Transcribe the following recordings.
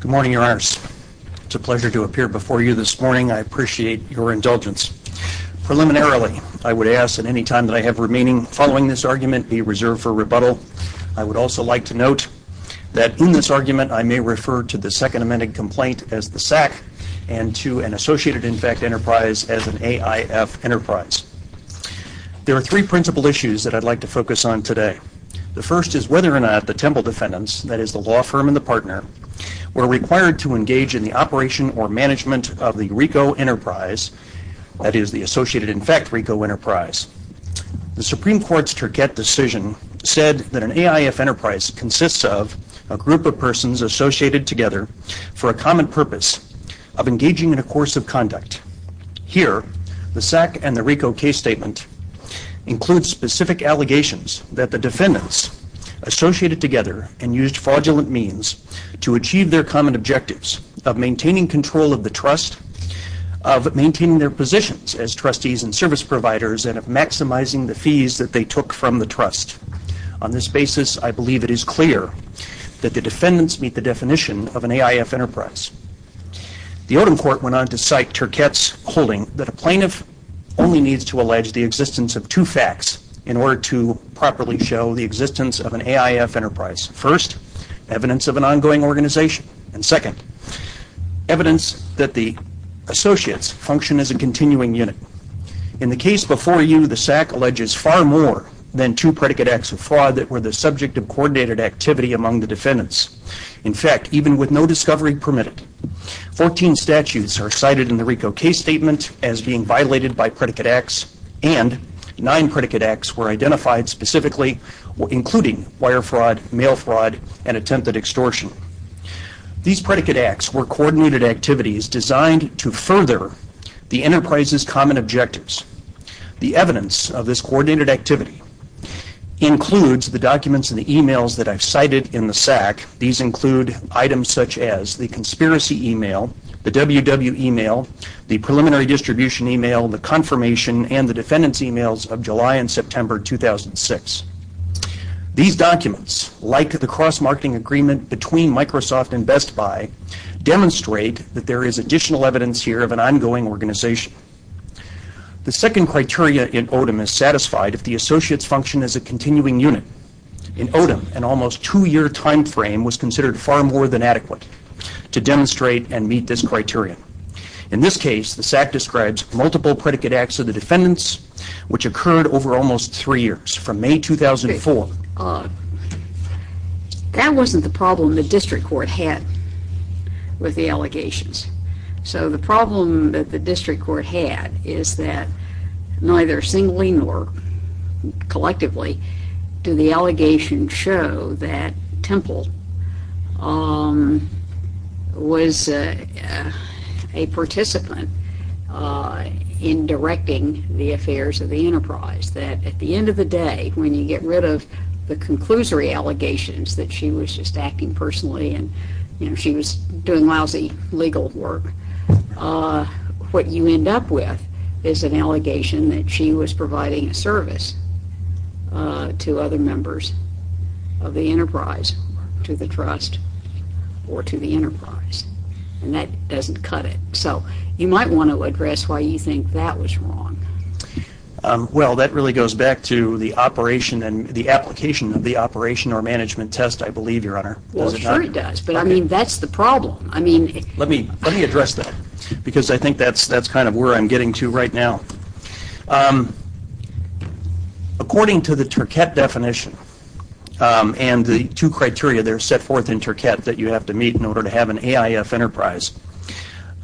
Good morning, Your Honors. It's a pleasure to appear before you this morning. I appreciate your indulgence. Preliminarily, I would ask that any time that I have remaining following this argument be reserved for rebuttal. I would also like to note that in this argument I may refer to the Second Amended Complaint as the SAC and to an associated in fact enterprise as an AIF enterprise. There are three principal issues that I'd like to focus on today. The first is whether or not the Temple defendants, that is the law firm and the partner, were required to engage in the operation or management of the RICO enterprise, that is the associated in fact RICO enterprise. The Supreme Court's Turquette decision said that an AIF enterprise consists of a group of persons associated together for a common purpose of engaging in a course of conduct. Here the SAC and the RICO case statement includes specific allegations that the defendants associated together and used fraudulent means to achieve their common objectives of maintaining control of the trust, of maintaining their positions as trustees and service providers and of maximizing the fees that they took from the trust. On this basis I believe it is clear that the defendants meet the definition of an AIF enterprise. The Odom Court went on to cite Turquette's holding that a plaintiff only needs to allege the existence of two facts in order to properly show the existence of an AIF enterprise. First evidence of an ongoing organization and second evidence that the associates function as a continuing unit. In the case before you, the SAC alleges far more than two predicate acts of fraud that were the subject of coordinated activity among the defendants. In fact, even with no discovery permitted, 14 statutes are cited in the RICO case statement as being violated by predicate acts and nine predicate acts were identified specifically including wire fraud, mail fraud and attempted extortion. These predicate acts were coordinated activities designed to further the enterprise's common objectives. The evidence of this coordinated activity includes the documents and the emails that I've cited in the SAC. These include items such as the conspiracy email, the WW email, the preliminary distribution email, the confirmation and the defendants emails of July and September 2006. These documents, like the cross-marketing agreement between Microsoft and Best Buy demonstrate that there is additional evidence here of an ongoing organization. The second criteria in Odom is satisfied if the associates function as a continuing unit. In Odom, an almost two-year time frame was considered far more than adequate to demonstrate and meet this criterion. In this case, the SAC describes multiple predicate acts of the defendants which occurred over almost three years from May 2004. That wasn't the problem the district court had with the allegations. So the problem that the district court had is that neither singly nor collectively do the allegations show that Temple was a participant in directing the affairs of the enterprise. That at the end of the day, when you get rid of the conclusory allegations that she was just acting personally and she was doing lousy legal work, what you end up with is an allegation that she was providing a service to other members of the enterprise, to the trust or to the enterprise. And that doesn't cut it. So you might want to address why you think that was wrong. Well that really goes back to the operation and the application of the operation or management test I believe your honor. Well sure it does, but I mean that's the problem. Let me address that because I think that's kind of where I'm getting to right now. According to the Turquette definition and the two criteria that are set forth in Turquette that you have to meet in order to have an AIF enterprise,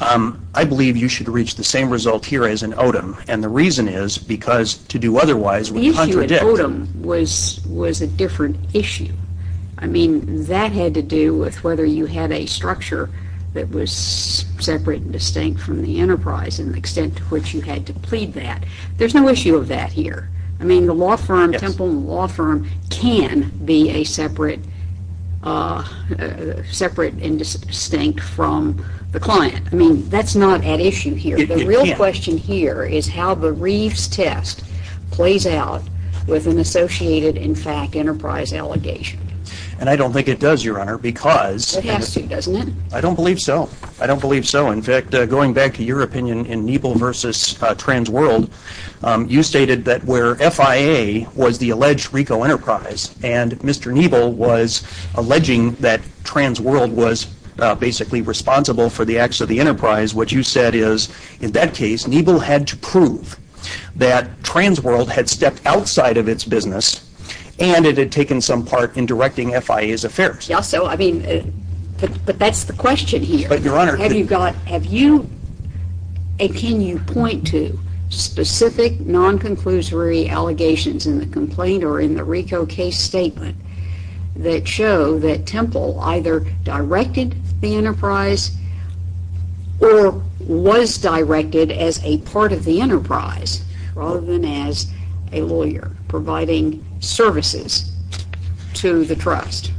I believe you should reach the same result here as in Odom. And the reason is because to do otherwise would contradict. The issue in Odom was a different issue. I mean that had to do with whether you had a structure that was separate and distinct from the enterprise and the extent to which you had to plead that. There's no issue of that here. I mean the law firm, Temple Law Firm, can be a separate and distinct from the client. I mean that's not at issue here. The real question here is how the Reeves test plays out with an associated in fact enterprise allegation. And I don't think it does your honor because I don't believe so. I don't believe so. In fact, going back to your opinion in Niebl versus Transworld, you stated that where FIA was the alleged RICO enterprise and Mr. Niebl was alleging that Transworld was basically responsible for the acts of the enterprise, what you said is in that case Niebl had to some part in directing FIA's affairs. Yes, so I mean, but that's the question here. But your honor. Have you got, have you, and can you point to specific non-conclusory allegations in the complaint or in the RICO case statement that show that Temple either directed the enterprise or was directed as a part of the enterprise rather than as a lawyer providing services? To the trust.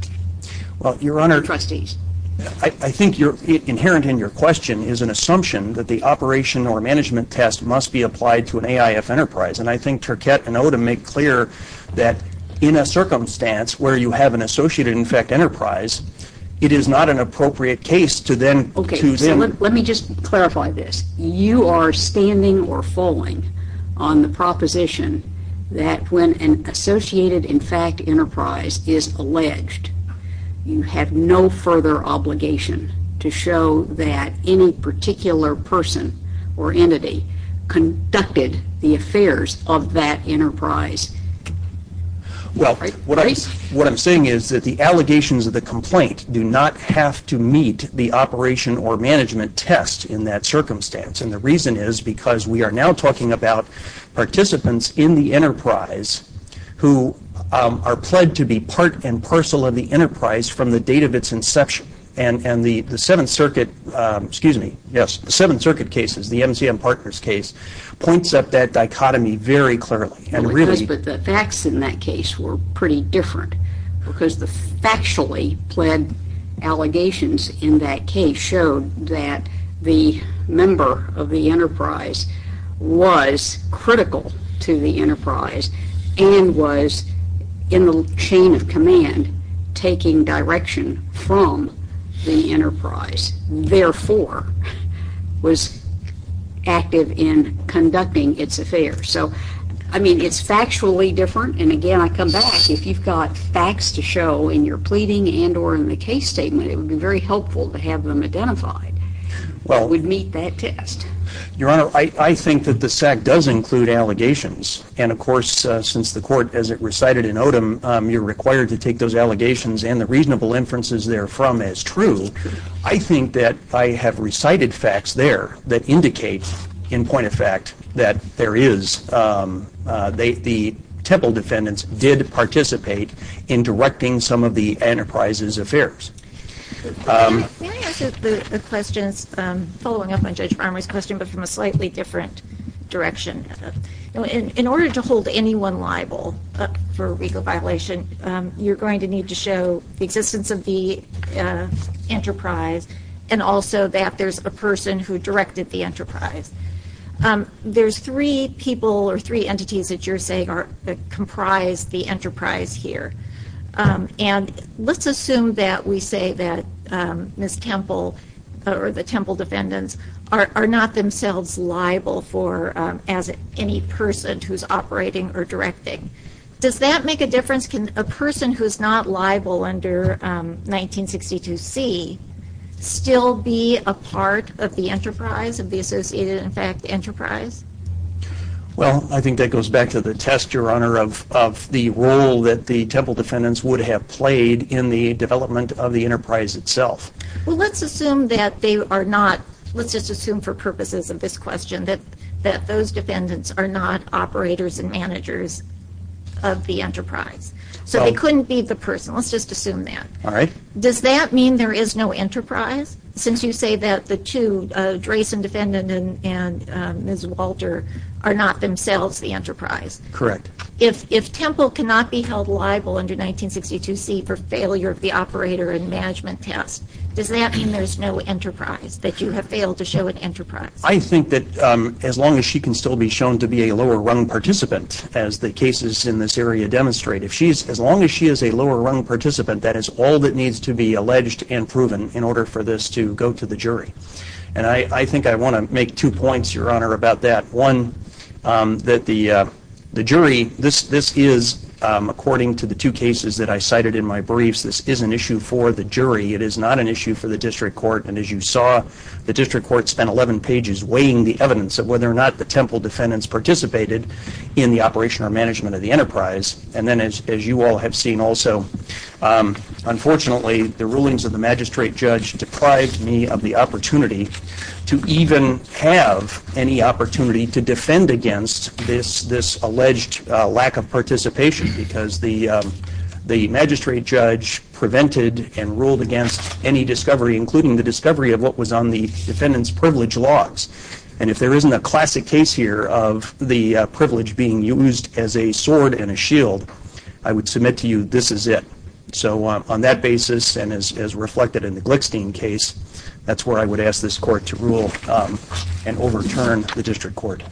Well, your honor. Or trustees. I think you're, inherent in your question is an assumption that the operation or management test must be applied to an AIF enterprise. And I think Turquette and Odom make clear that in a circumstance where you have an associated in fact enterprise, it is not an appropriate case to then. Okay, so let me just clarify this. You are standing or falling on the proposition that when an associated in fact enterprise is alleged, you have no further obligation to show that any particular person or entity conducted the affairs of that enterprise. Well, what I'm saying is that the allegations of the complaint do not have to meet the operation or management test in that circumstance. And the reason is because we are now talking about participants in the enterprise who are pled to be part and parcel of the enterprise from the date of its inception. And the 7th Circuit, excuse me, yes, the 7th Circuit cases, the MCM Partners case, points up that dichotomy very clearly. But the facts in that case were pretty different because the factually pled allegations in that case showed that the member of the enterprise was critical to the enterprise and was in the chain of command taking direction from the enterprise, therefore, was active in conducting its affairs. So, I mean, it's factually different. And again, I come back, if you've got facts to show in your pleading and or in the case statement, it would be very helpful to have them identified that would meet that test. Your Honor, I think that the SAC does include allegations. And of course, since the Court, as it recited in Odom, you're required to take those allegations and the reasonable inferences therefrom as true. I think that I have recited facts there that indicate, in point of fact, that there is the Temple defendants did participate in directing some of the enterprise's affairs. Can I ask the questions, following up on Judge Farmer's question, but from a slightly different direction? In order to hold anyone liable for a legal violation, you're going to need to show the existence of the enterprise and also that there's a person who directed the enterprise. There's three people or three entities that you're saying comprise the enterprise here. And let's assume that we say that Ms. Temple or the Temple defendants are not themselves liable for, as any person who's operating or directing. Does that make a difference? Can a person who's not liable under 1962C still be a part of the enterprise, of the associated, in fact, enterprise? Well I think that goes back to the test, Your Honor, of the role that the Temple defendants would have played in the development of the enterprise itself. Well let's assume that they are not, let's just assume for purposes of this question, that those defendants are not operators and managers of the enterprise. So they couldn't be the person, let's just assume that. Does that mean there is no enterprise? Since you say that the two, Drayson defendant and Ms. Walter, are not themselves the enterprise? Correct. If Temple cannot be held liable under 1962C for failure of the operator and management test, does that mean there's no enterprise, that you have failed to show an enterprise? I think that as long as she can still be shown to be a lower rung participant, as the cases in this area demonstrate, if she's, as long as she is a lower rung participant, that is all that needs to be alleged and proven in order for this to go to the jury. And I think I want to make two points, Your Honor, about that. One, that the jury, this is, according to the two cases that I cited in my briefs, this is an issue for the jury. It is not an issue for the district court. And as you saw, the district court spent 11 pages weighing the evidence of whether or not the Temple defendants participated in the operation or management of the enterprise. And then, as you all have seen also, unfortunately, the rulings of the magistrate judge deprived me of the opportunity to even have any opportunity to defend against this alleged lack of participation, because the magistrate judge prevented and ruled against any discovery, including the discovery of what was on the defendant's privilege logs. And if there isn't a classic case here of the privilege being used as a sword and a shield, I would submit to you, this is it. So on that basis, and as reflected in the Glickstein case, that's where I would ask this court to rule and overturn the district court.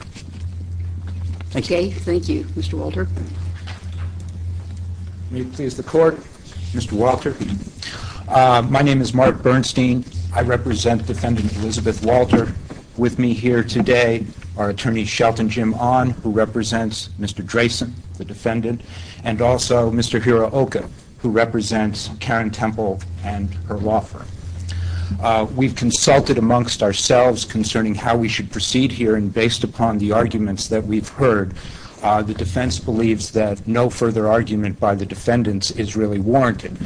Thank you. Okay. Thank you. Mr. Walter. May it please the court. Mr. Walter, my name is Mark Bernstein. I represent Defendant Elizabeth Walter. With me here today are Attorney Shelton Jim Ahn, who represents Mr. Dresen, the defendant, and also Mr. Hiro Oka, who represents Karen Temple and her law firm. We've consulted amongst ourselves concerning how we should proceed here, and based upon the arguments that we've heard, the defense believes that no further argument by the defendants is really warranted.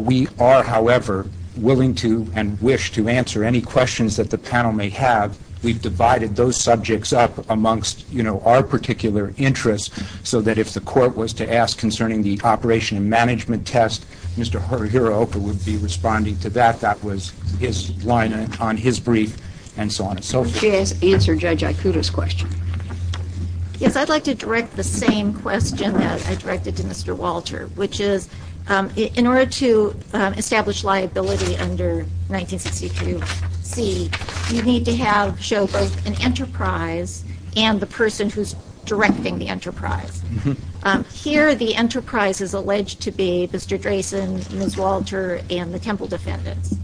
We are, however, willing to and wish to answer any questions that the panel may have. We've divided those subjects up amongst, you know, our particular interests, so that if the court was to ask concerning the operation and management test, Mr. Hiro Oka would be responding to that. That was his line on his brief, and so on and so forth. May I answer Judge Ikuda's question? Yes. I'd like to direct the same question that I directed to Mr. Walter, which is, in order to establish liability under 1962C, you need to show both an enterprise and the person who's directing the enterprise. Here the enterprise is alleged to be Mr. Dresen, Ms. Walter, and the Temple defendants.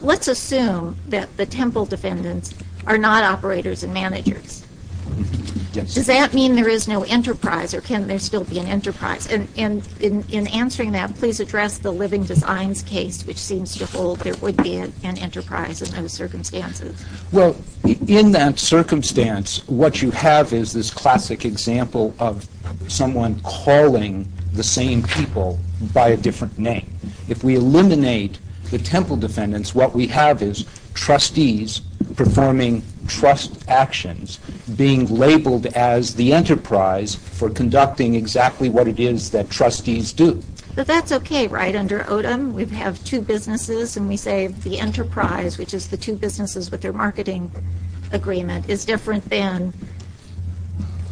Let's assume that the Temple defendants are not operators and managers. Yes. Does that mean there is no enterprise, or can there still be an enterprise? In answering that, please address the Living Designs case, which seems to hold there would be an enterprise in those circumstances. Well, in that circumstance, what you have is this classic example of someone calling the same people by a different name. If we eliminate the Temple defendants, what we have is trustees performing trust actions being labeled as the enterprise for conducting exactly what it is that trustees do. But that's okay, right? Under Odom, we have two businesses, and we say the enterprise, which is the two businesses with their marketing agreement, is different than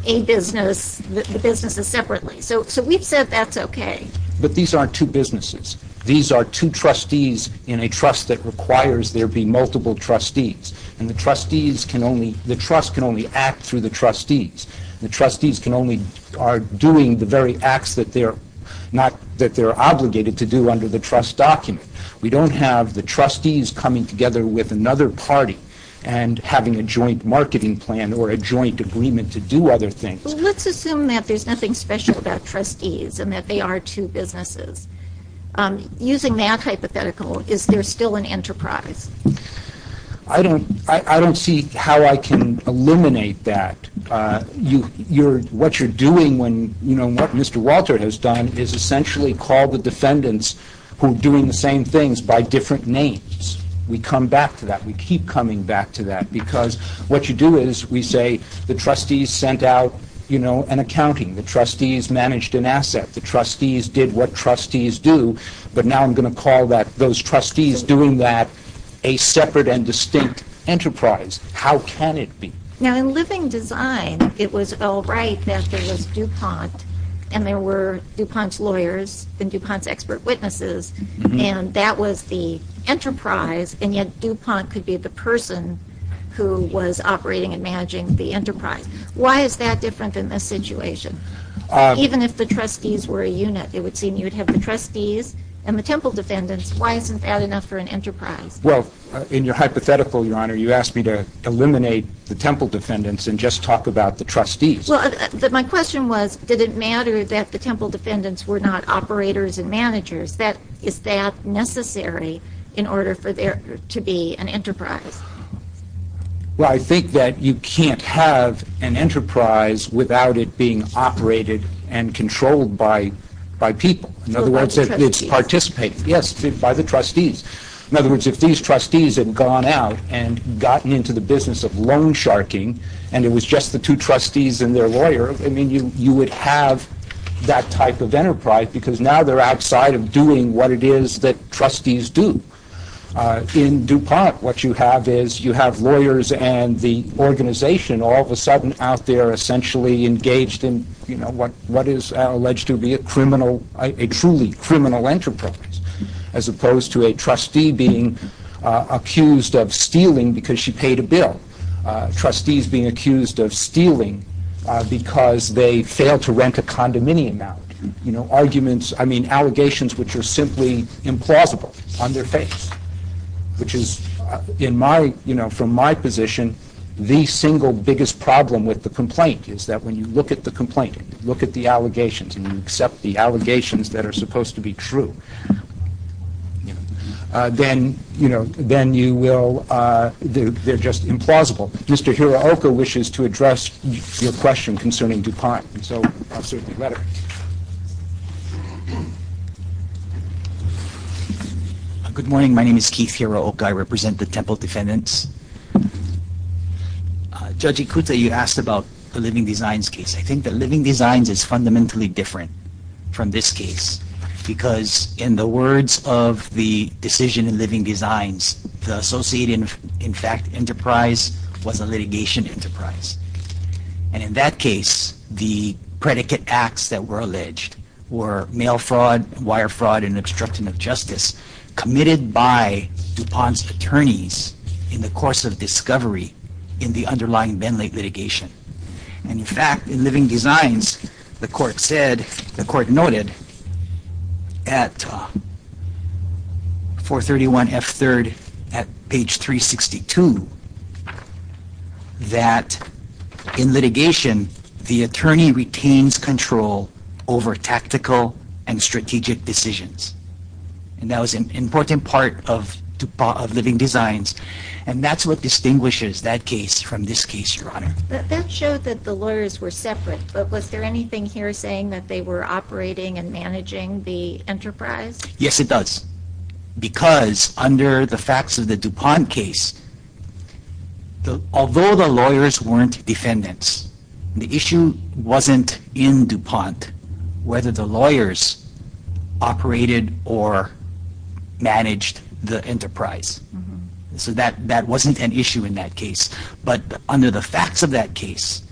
a business, the businesses separately. So we've said that's okay. But these aren't two businesses. These are two trustees in a trust that requires there be multiple trustees, and the trust can only act through the trustees. The trustees are doing the very acts that they're obligated to do under the trust document. We don't have the trustees coming together with another party and having a joint marketing plan or a joint agreement to do other things. Let's assume that there's nothing special about trustees and that they are two businesses. Using that hypothetical, is there still an enterprise? I don't see how I can eliminate that. What you're doing when, you know, what Mr. Walter has done is essentially called the defendants who are doing the same things by different names. We come back to that. We keep coming back to that because what you do is we say the trustees sent out, you know, an accounting. The trustees managed an asset. The trustees did what trustees do. But now I'm going to call those trustees doing that a separate and distinct enterprise. How can it be? Now, in living design, it was all right that there was DuPont and there were DuPont's lawyers and DuPont's expert witnesses, and that was the enterprise, and yet DuPont could be the person who was operating and managing the enterprise. Why is that different than this situation? Even if the trustees were a unit, it would seem you would have the trustees and the temple defendants. Why isn't that enough for an enterprise? Well, in your hypothetical, Your Honor, you asked me to eliminate the temple defendants and just talk about the trustees. My question was, did it matter that the temple defendants were not operators and managers? Is that necessary in order for there to be an enterprise? Well, I think that you can't have an enterprise without it being operated and controlled by So by the trustees. In other words, it's participating. Yes, by the trustees. In other words, if these trustees had gone out and gotten into the business of loan sharking and it was just the two trustees and their lawyer, I mean, you would have that type of enterprise because now they're outside of doing what it is that trustees do. In DuPont, what you have is you have lawyers and the organization all of a sudden out there essentially engaged in what is alleged to be a criminal, a truly criminal enterprise, as opposed to a trustee being accused of stealing because she paid a bill. Trustees being accused of stealing because they failed to rent a condominium out. You know, arguments, I mean, allegations which are simply implausible on their face, which is in my, you know, from my position, the single biggest problem with the complaint is that when you look at the complaint, look at the allegations and you accept the allegations that are supposed to be true, then, you know, then you will, they're just implausible. Mr. Hirooka wishes to address your question concerning DuPont. So I'll certainly let him. Good morning. My name is Keith Hirooka. I represent the Temple Defendants. Judge Ikuta, you asked about the Living Designs case. I think the Living Designs is fundamentally different from this case because in the words of the decision in Living Designs, the associated, in fact, enterprise was a litigation enterprise. And in that case, the predicate acts that were alleged were mail fraud, wire fraud, and obstruction of justice committed by DuPont's attorneys in the course of discovery in the underlying Bentley litigation. And in fact, in Living Designs, the court said, the court noted at 431F3rd at page 362 that in litigation, the attorney retains control over tactical and strategic decisions. And that was an important part of DuPont, of Living Designs. And that's what distinguishes that case from this case, Your Honor. That showed that the lawyers were separate. But was there anything here saying that they were operating and managing the enterprise? Yes, it does. Because under the facts of the DuPont case, although the lawyers weren't defendants, the issue wasn't in DuPont whether the lawyers operated or managed the enterprise. So that wasn't an issue in that case. But under the facts of that case,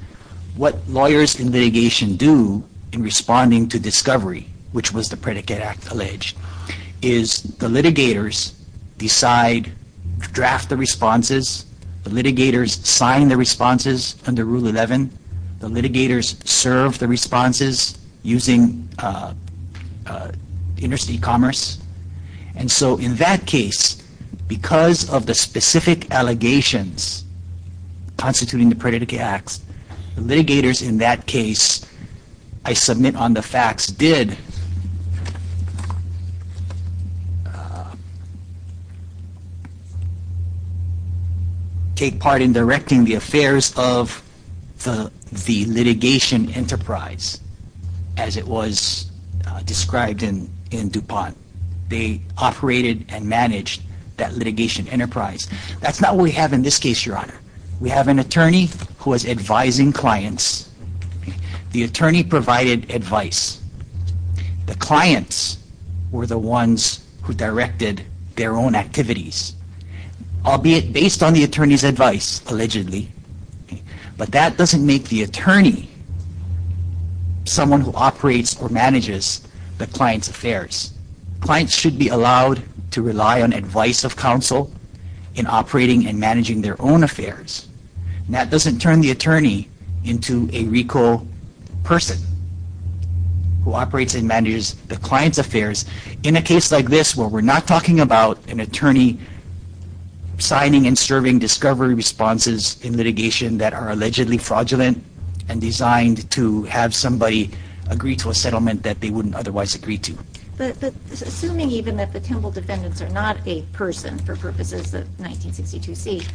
what lawyers in litigation do in responding to discovery, which was the predicate act alleged, is the litigators decide, draft the responses. The litigators sign the responses under Rule 11. The litigators serve the responses using interstate commerce. And so in that case, because of the specific allegations constituting the predicate acts, the litigators in that case, I submit on the facts, did take part in directing the affairs of the litigation enterprise as it was described in DuPont. They operated and managed that litigation enterprise. That's not what we have in this case, Your Honor. We have an attorney who is advising clients. The attorney provided advice. The clients were the ones who directed their own activities, albeit based on the attorney's advice, allegedly. But that doesn't make the attorney someone who operates or manages the client's affairs. Clients should be allowed to rely on advice of counsel in operating and managing their own affairs. And that doesn't turn the attorney into a RICO person who operates and manages the client's affairs. In a case like this where we're not talking about an attorney signing and serving discovery responses in litigation that are allegedly fraudulent and designed to have somebody agree to a settlement that they wouldn't otherwise agree to. But assuming even that the Temple defendants are not a person for purposes of 1962C,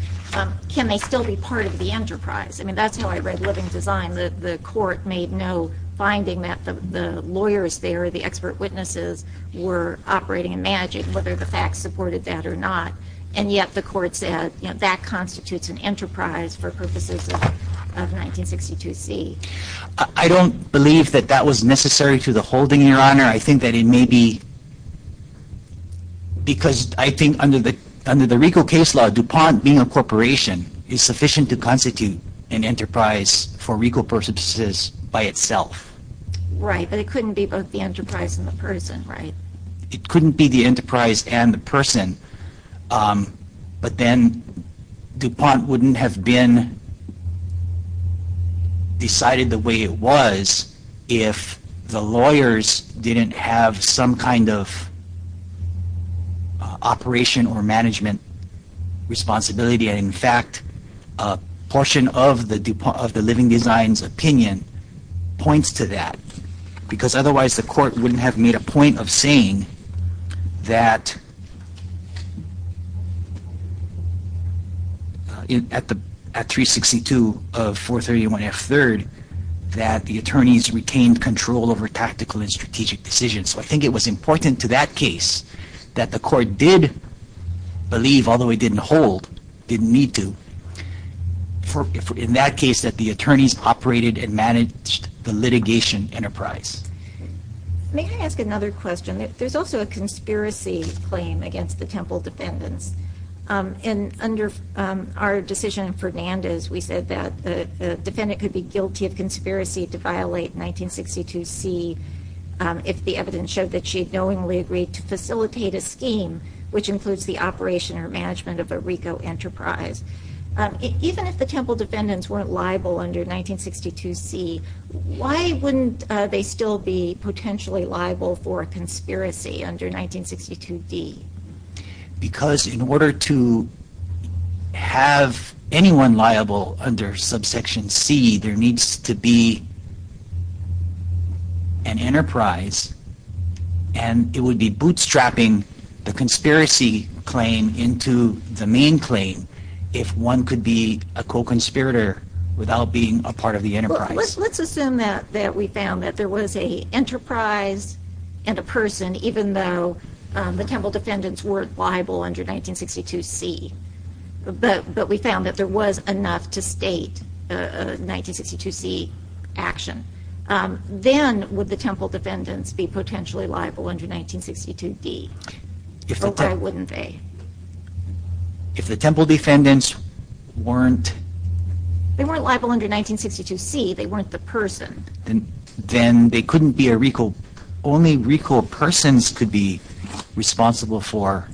can they still be part of the enterprise? I mean, that's how I read Living Design. The court made no finding that the lawyers there, the expert witnesses, were operating and managing, whether the facts supported that or not. And yet the court said, you know, that constitutes an enterprise for purposes of 1962C. I don't believe that that was necessary to the holding, Your Honor. I think that it may be because I think under the RICO case law, DuPont being a corporation is sufficient to constitute an enterprise for RICO purposes by itself. Right, but it couldn't be both the enterprise and the person, right? It couldn't be the enterprise and the person, but then DuPont wouldn't have been decided the way it was if the lawyers didn't have some kind of operation or management responsibility. And in fact, a portion of the Living Design's opinion points to that because otherwise the court wouldn't have made a point of saying that at 362 of 431F3rd that the attorneys retained control over tactical and strategic decisions. So I think it was important to that case that the court did believe, although it didn't hold, didn't need to, in that case that the attorneys operated and managed the litigation enterprise. May I ask another question? There's also a conspiracy claim against the Temple defendants. And under our decision in Fernandez, we said that the defendant could be guilty of conspiracy to violate 1962C if the evidence showed that she had knowingly agreed to facilitate a scheme which includes the operation or management of a RICO enterprise. Even if the Temple defendants weren't liable under 1962C, why wouldn't they still be potentially liable for a conspiracy under 1962D? Because in order to have anyone liable under subsection C, there needs to be an enterprise, and it would be bootstrapping the conspiracy claim into the main claim if one could be a co-conspirator without being a part of the enterprise. Let's assume that we found that there was an enterprise and a person, even though the Temple defendants weren't liable under 1962C, but we found that there was enough to state a 1962C action. Then would the Temple defendants be potentially liable under 1962D? Why wouldn't they? If the Temple defendants weren't... They weren't liable under 1962C. They weren't the person. Then they couldn't be a RICO. Only RICO persons could be responsible for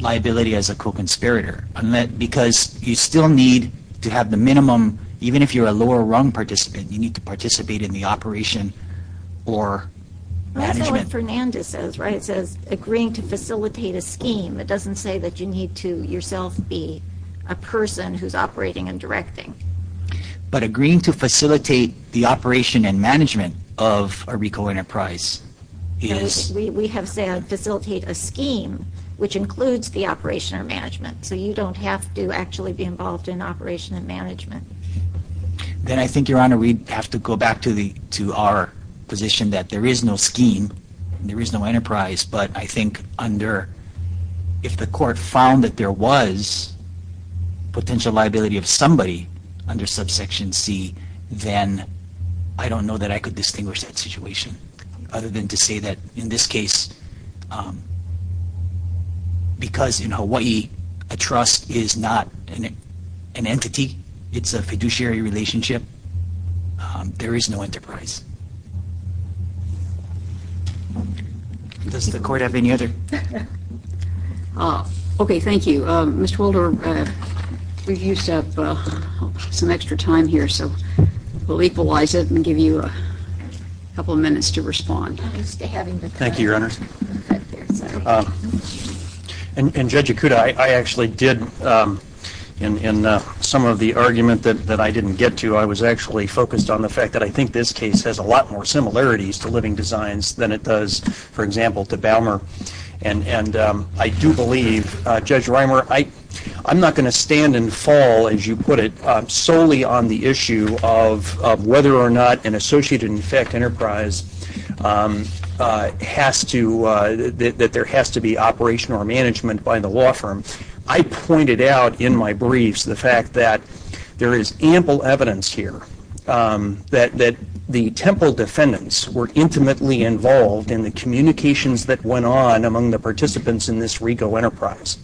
liability as a co-conspirator because you still need to have the minimum. Even if you're a lower rung participant, you need to participate in the operation or management. That's what Fernandez says, right? It says agreeing to facilitate a scheme. It doesn't say that you need to yourself be a person who's operating and directing. But agreeing to facilitate the operation and management of a RICO enterprise is... We have said facilitate a scheme, which includes the operation or management. So you don't have to actually be involved in operation and management. Then I think, Your Honor, we have to go back to our position that there is no scheme. There is no enterprise, but I think under... If the court found that there was potential liability of somebody under subsection C, then I don't know that I could distinguish that situation other than to say that in this case, because in Hawaii, a trust is not an entity. It's a fiduciary relationship. There is no enterprise. Does the court have any other... Okay, thank you. Mr. Holder, we used up some extra time here, so we'll equalize it and give you a couple of minutes to respond. Thank you, Your Honor. And Judge Ikuda, I actually did... In some of the argument that I didn't get to, I was actually focused on the fact that I think this case has a lot more similarities to living designs than it does, for example, to Balmer. And I do believe, Judge Reimer, I'm not going to stand and fall, as you put it, solely on the issue of whether or not an associated in effect enterprise has to... that there has to be operational management by the law firm. I pointed out in my briefs the fact that there is ample evidence here that the Temple defendants were intimately involved in the communications that went on among the participants in this RICO enterprise.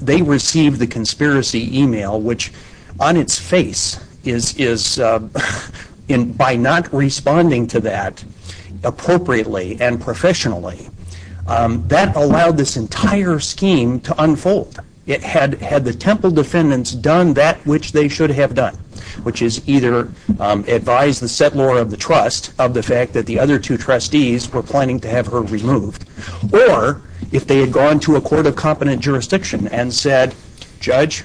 They received the conspiracy email, which, on its face, by not responding to that appropriately and professionally, that allowed this entire scheme to unfold. Had the Temple defendants done that which they should have done, which is either advise the settlor of the trust of the fact that the other two trustees were planning to have her removed, or if they had gone to a court of competent jurisdiction and said, Judge,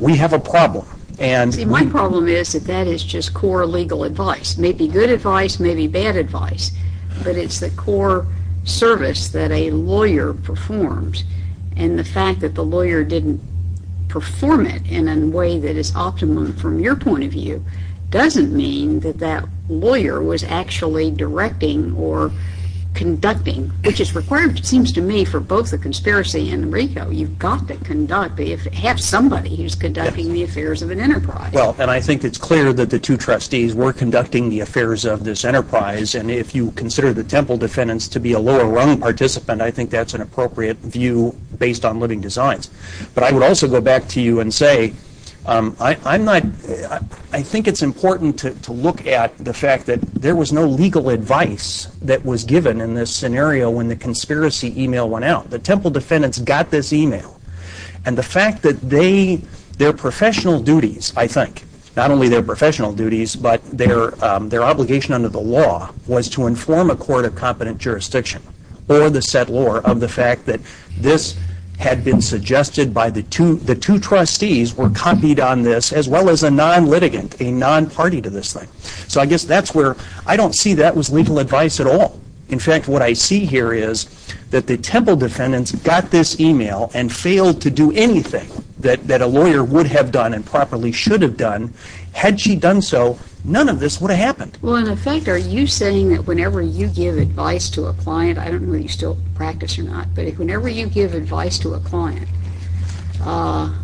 we have a problem, and... See, my problem is that that is just core legal advice. It may be good advice, it may be bad advice, but it's the core service that a lawyer performs. And the fact that the lawyer didn't perform it in a way that is optimum from your point of view doesn't mean that that lawyer was actually directing or conducting, which is required, it seems to me, for both the conspiracy and RICO. You've got to conduct, have somebody who's conducting the affairs of an enterprise. Well, and I think it's clear that the two trustees were conducting the affairs of this enterprise, and if you consider the Temple defendants to be a lower-rung participant, I think that's an appropriate view based on living designs. But I would also go back to you and say, I think it's important to look at the fact that there was no legal advice that was given in this scenario when the conspiracy e-mail went out. The Temple defendants got this e-mail, and the fact that their professional duties, I think, not only their professional duties, but their obligation under the law, was to inform a court of competent jurisdiction or the settlor of the fact that this had been suggested by the two trustees were copied on this, as well as a non-litigant, a non-party to this thing. So I guess that's where I don't see that was legal advice at all. In fact, what I see here is that the Temple defendants got this e-mail and failed to do anything that a lawyer would have done and properly should have done. Had she done so, none of this would have happened. Well, in effect, are you saying that whenever you give advice to a client, I don't know if you still practice or not, but whenever you give advice to a client, no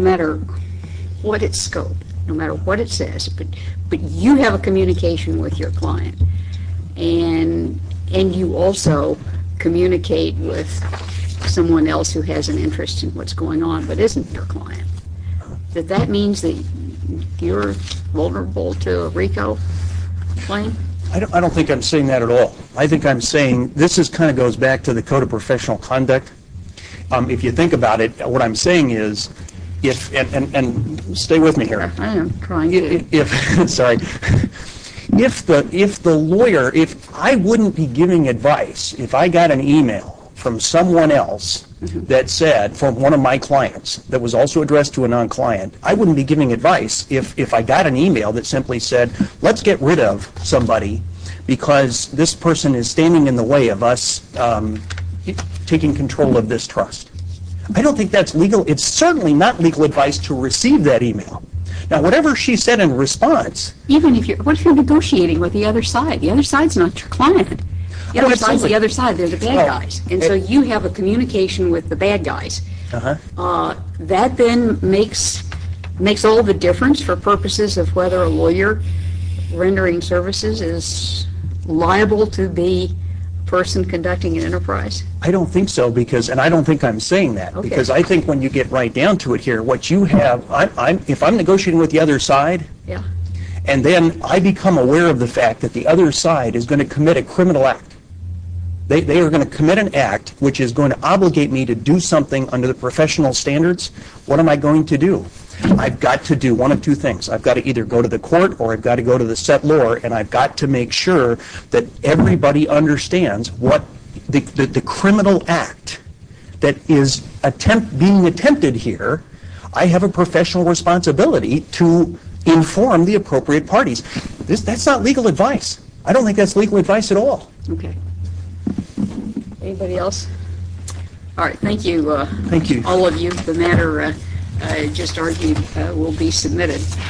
matter what its scope, no matter what it says, but you have a communication with your client and you also communicate with someone else who has an interest in what's going on but isn't your client, that that means that you're vulnerable to a RICO claim? I don't think I'm saying that at all. I think I'm saying this kind of goes back to the Code of Professional Conduct. If you think about it, what I'm saying is, and stay with me here. I am trying to. Sorry. If the lawyer, if I wouldn't be giving advice, if I got an e-mail from someone else that said, from one of my clients that was also addressed to a non-client, I wouldn't be giving advice if I got an e-mail that simply said, let's get rid of somebody because this person is standing in the way of us taking control of this trust. I don't think that's legal. It's certainly not legal advice to receive that e-mail. Now, whatever she said in response. Even if you're negotiating with the other side. The other side's not your client. The other side's the other side. They're the bad guys. And so you have a communication with the bad guys. That then makes all the difference for purposes of whether a lawyer rendering services is liable to be a person conducting an enterprise. I don't think so, and I don't think I'm saying that. Because I think when you get right down to it here, what you have, if I'm negotiating with the other side, and then I become aware of the fact that the other side is going to commit a criminal act. They are going to commit an act which is going to obligate me to do something under the professional standards. What am I going to do? I've got to do one of two things. I've got to either go to the court or I've got to go to the settlor, and I've got to make sure that everybody understands what the criminal act that is being attempted here, I have a professional responsibility to inform the appropriate parties. That's not legal advice. I don't think that's legal advice at all. Okay. Anybody else? All right. Thank you, all of you. Thank you. The matter I just argued will be submitted.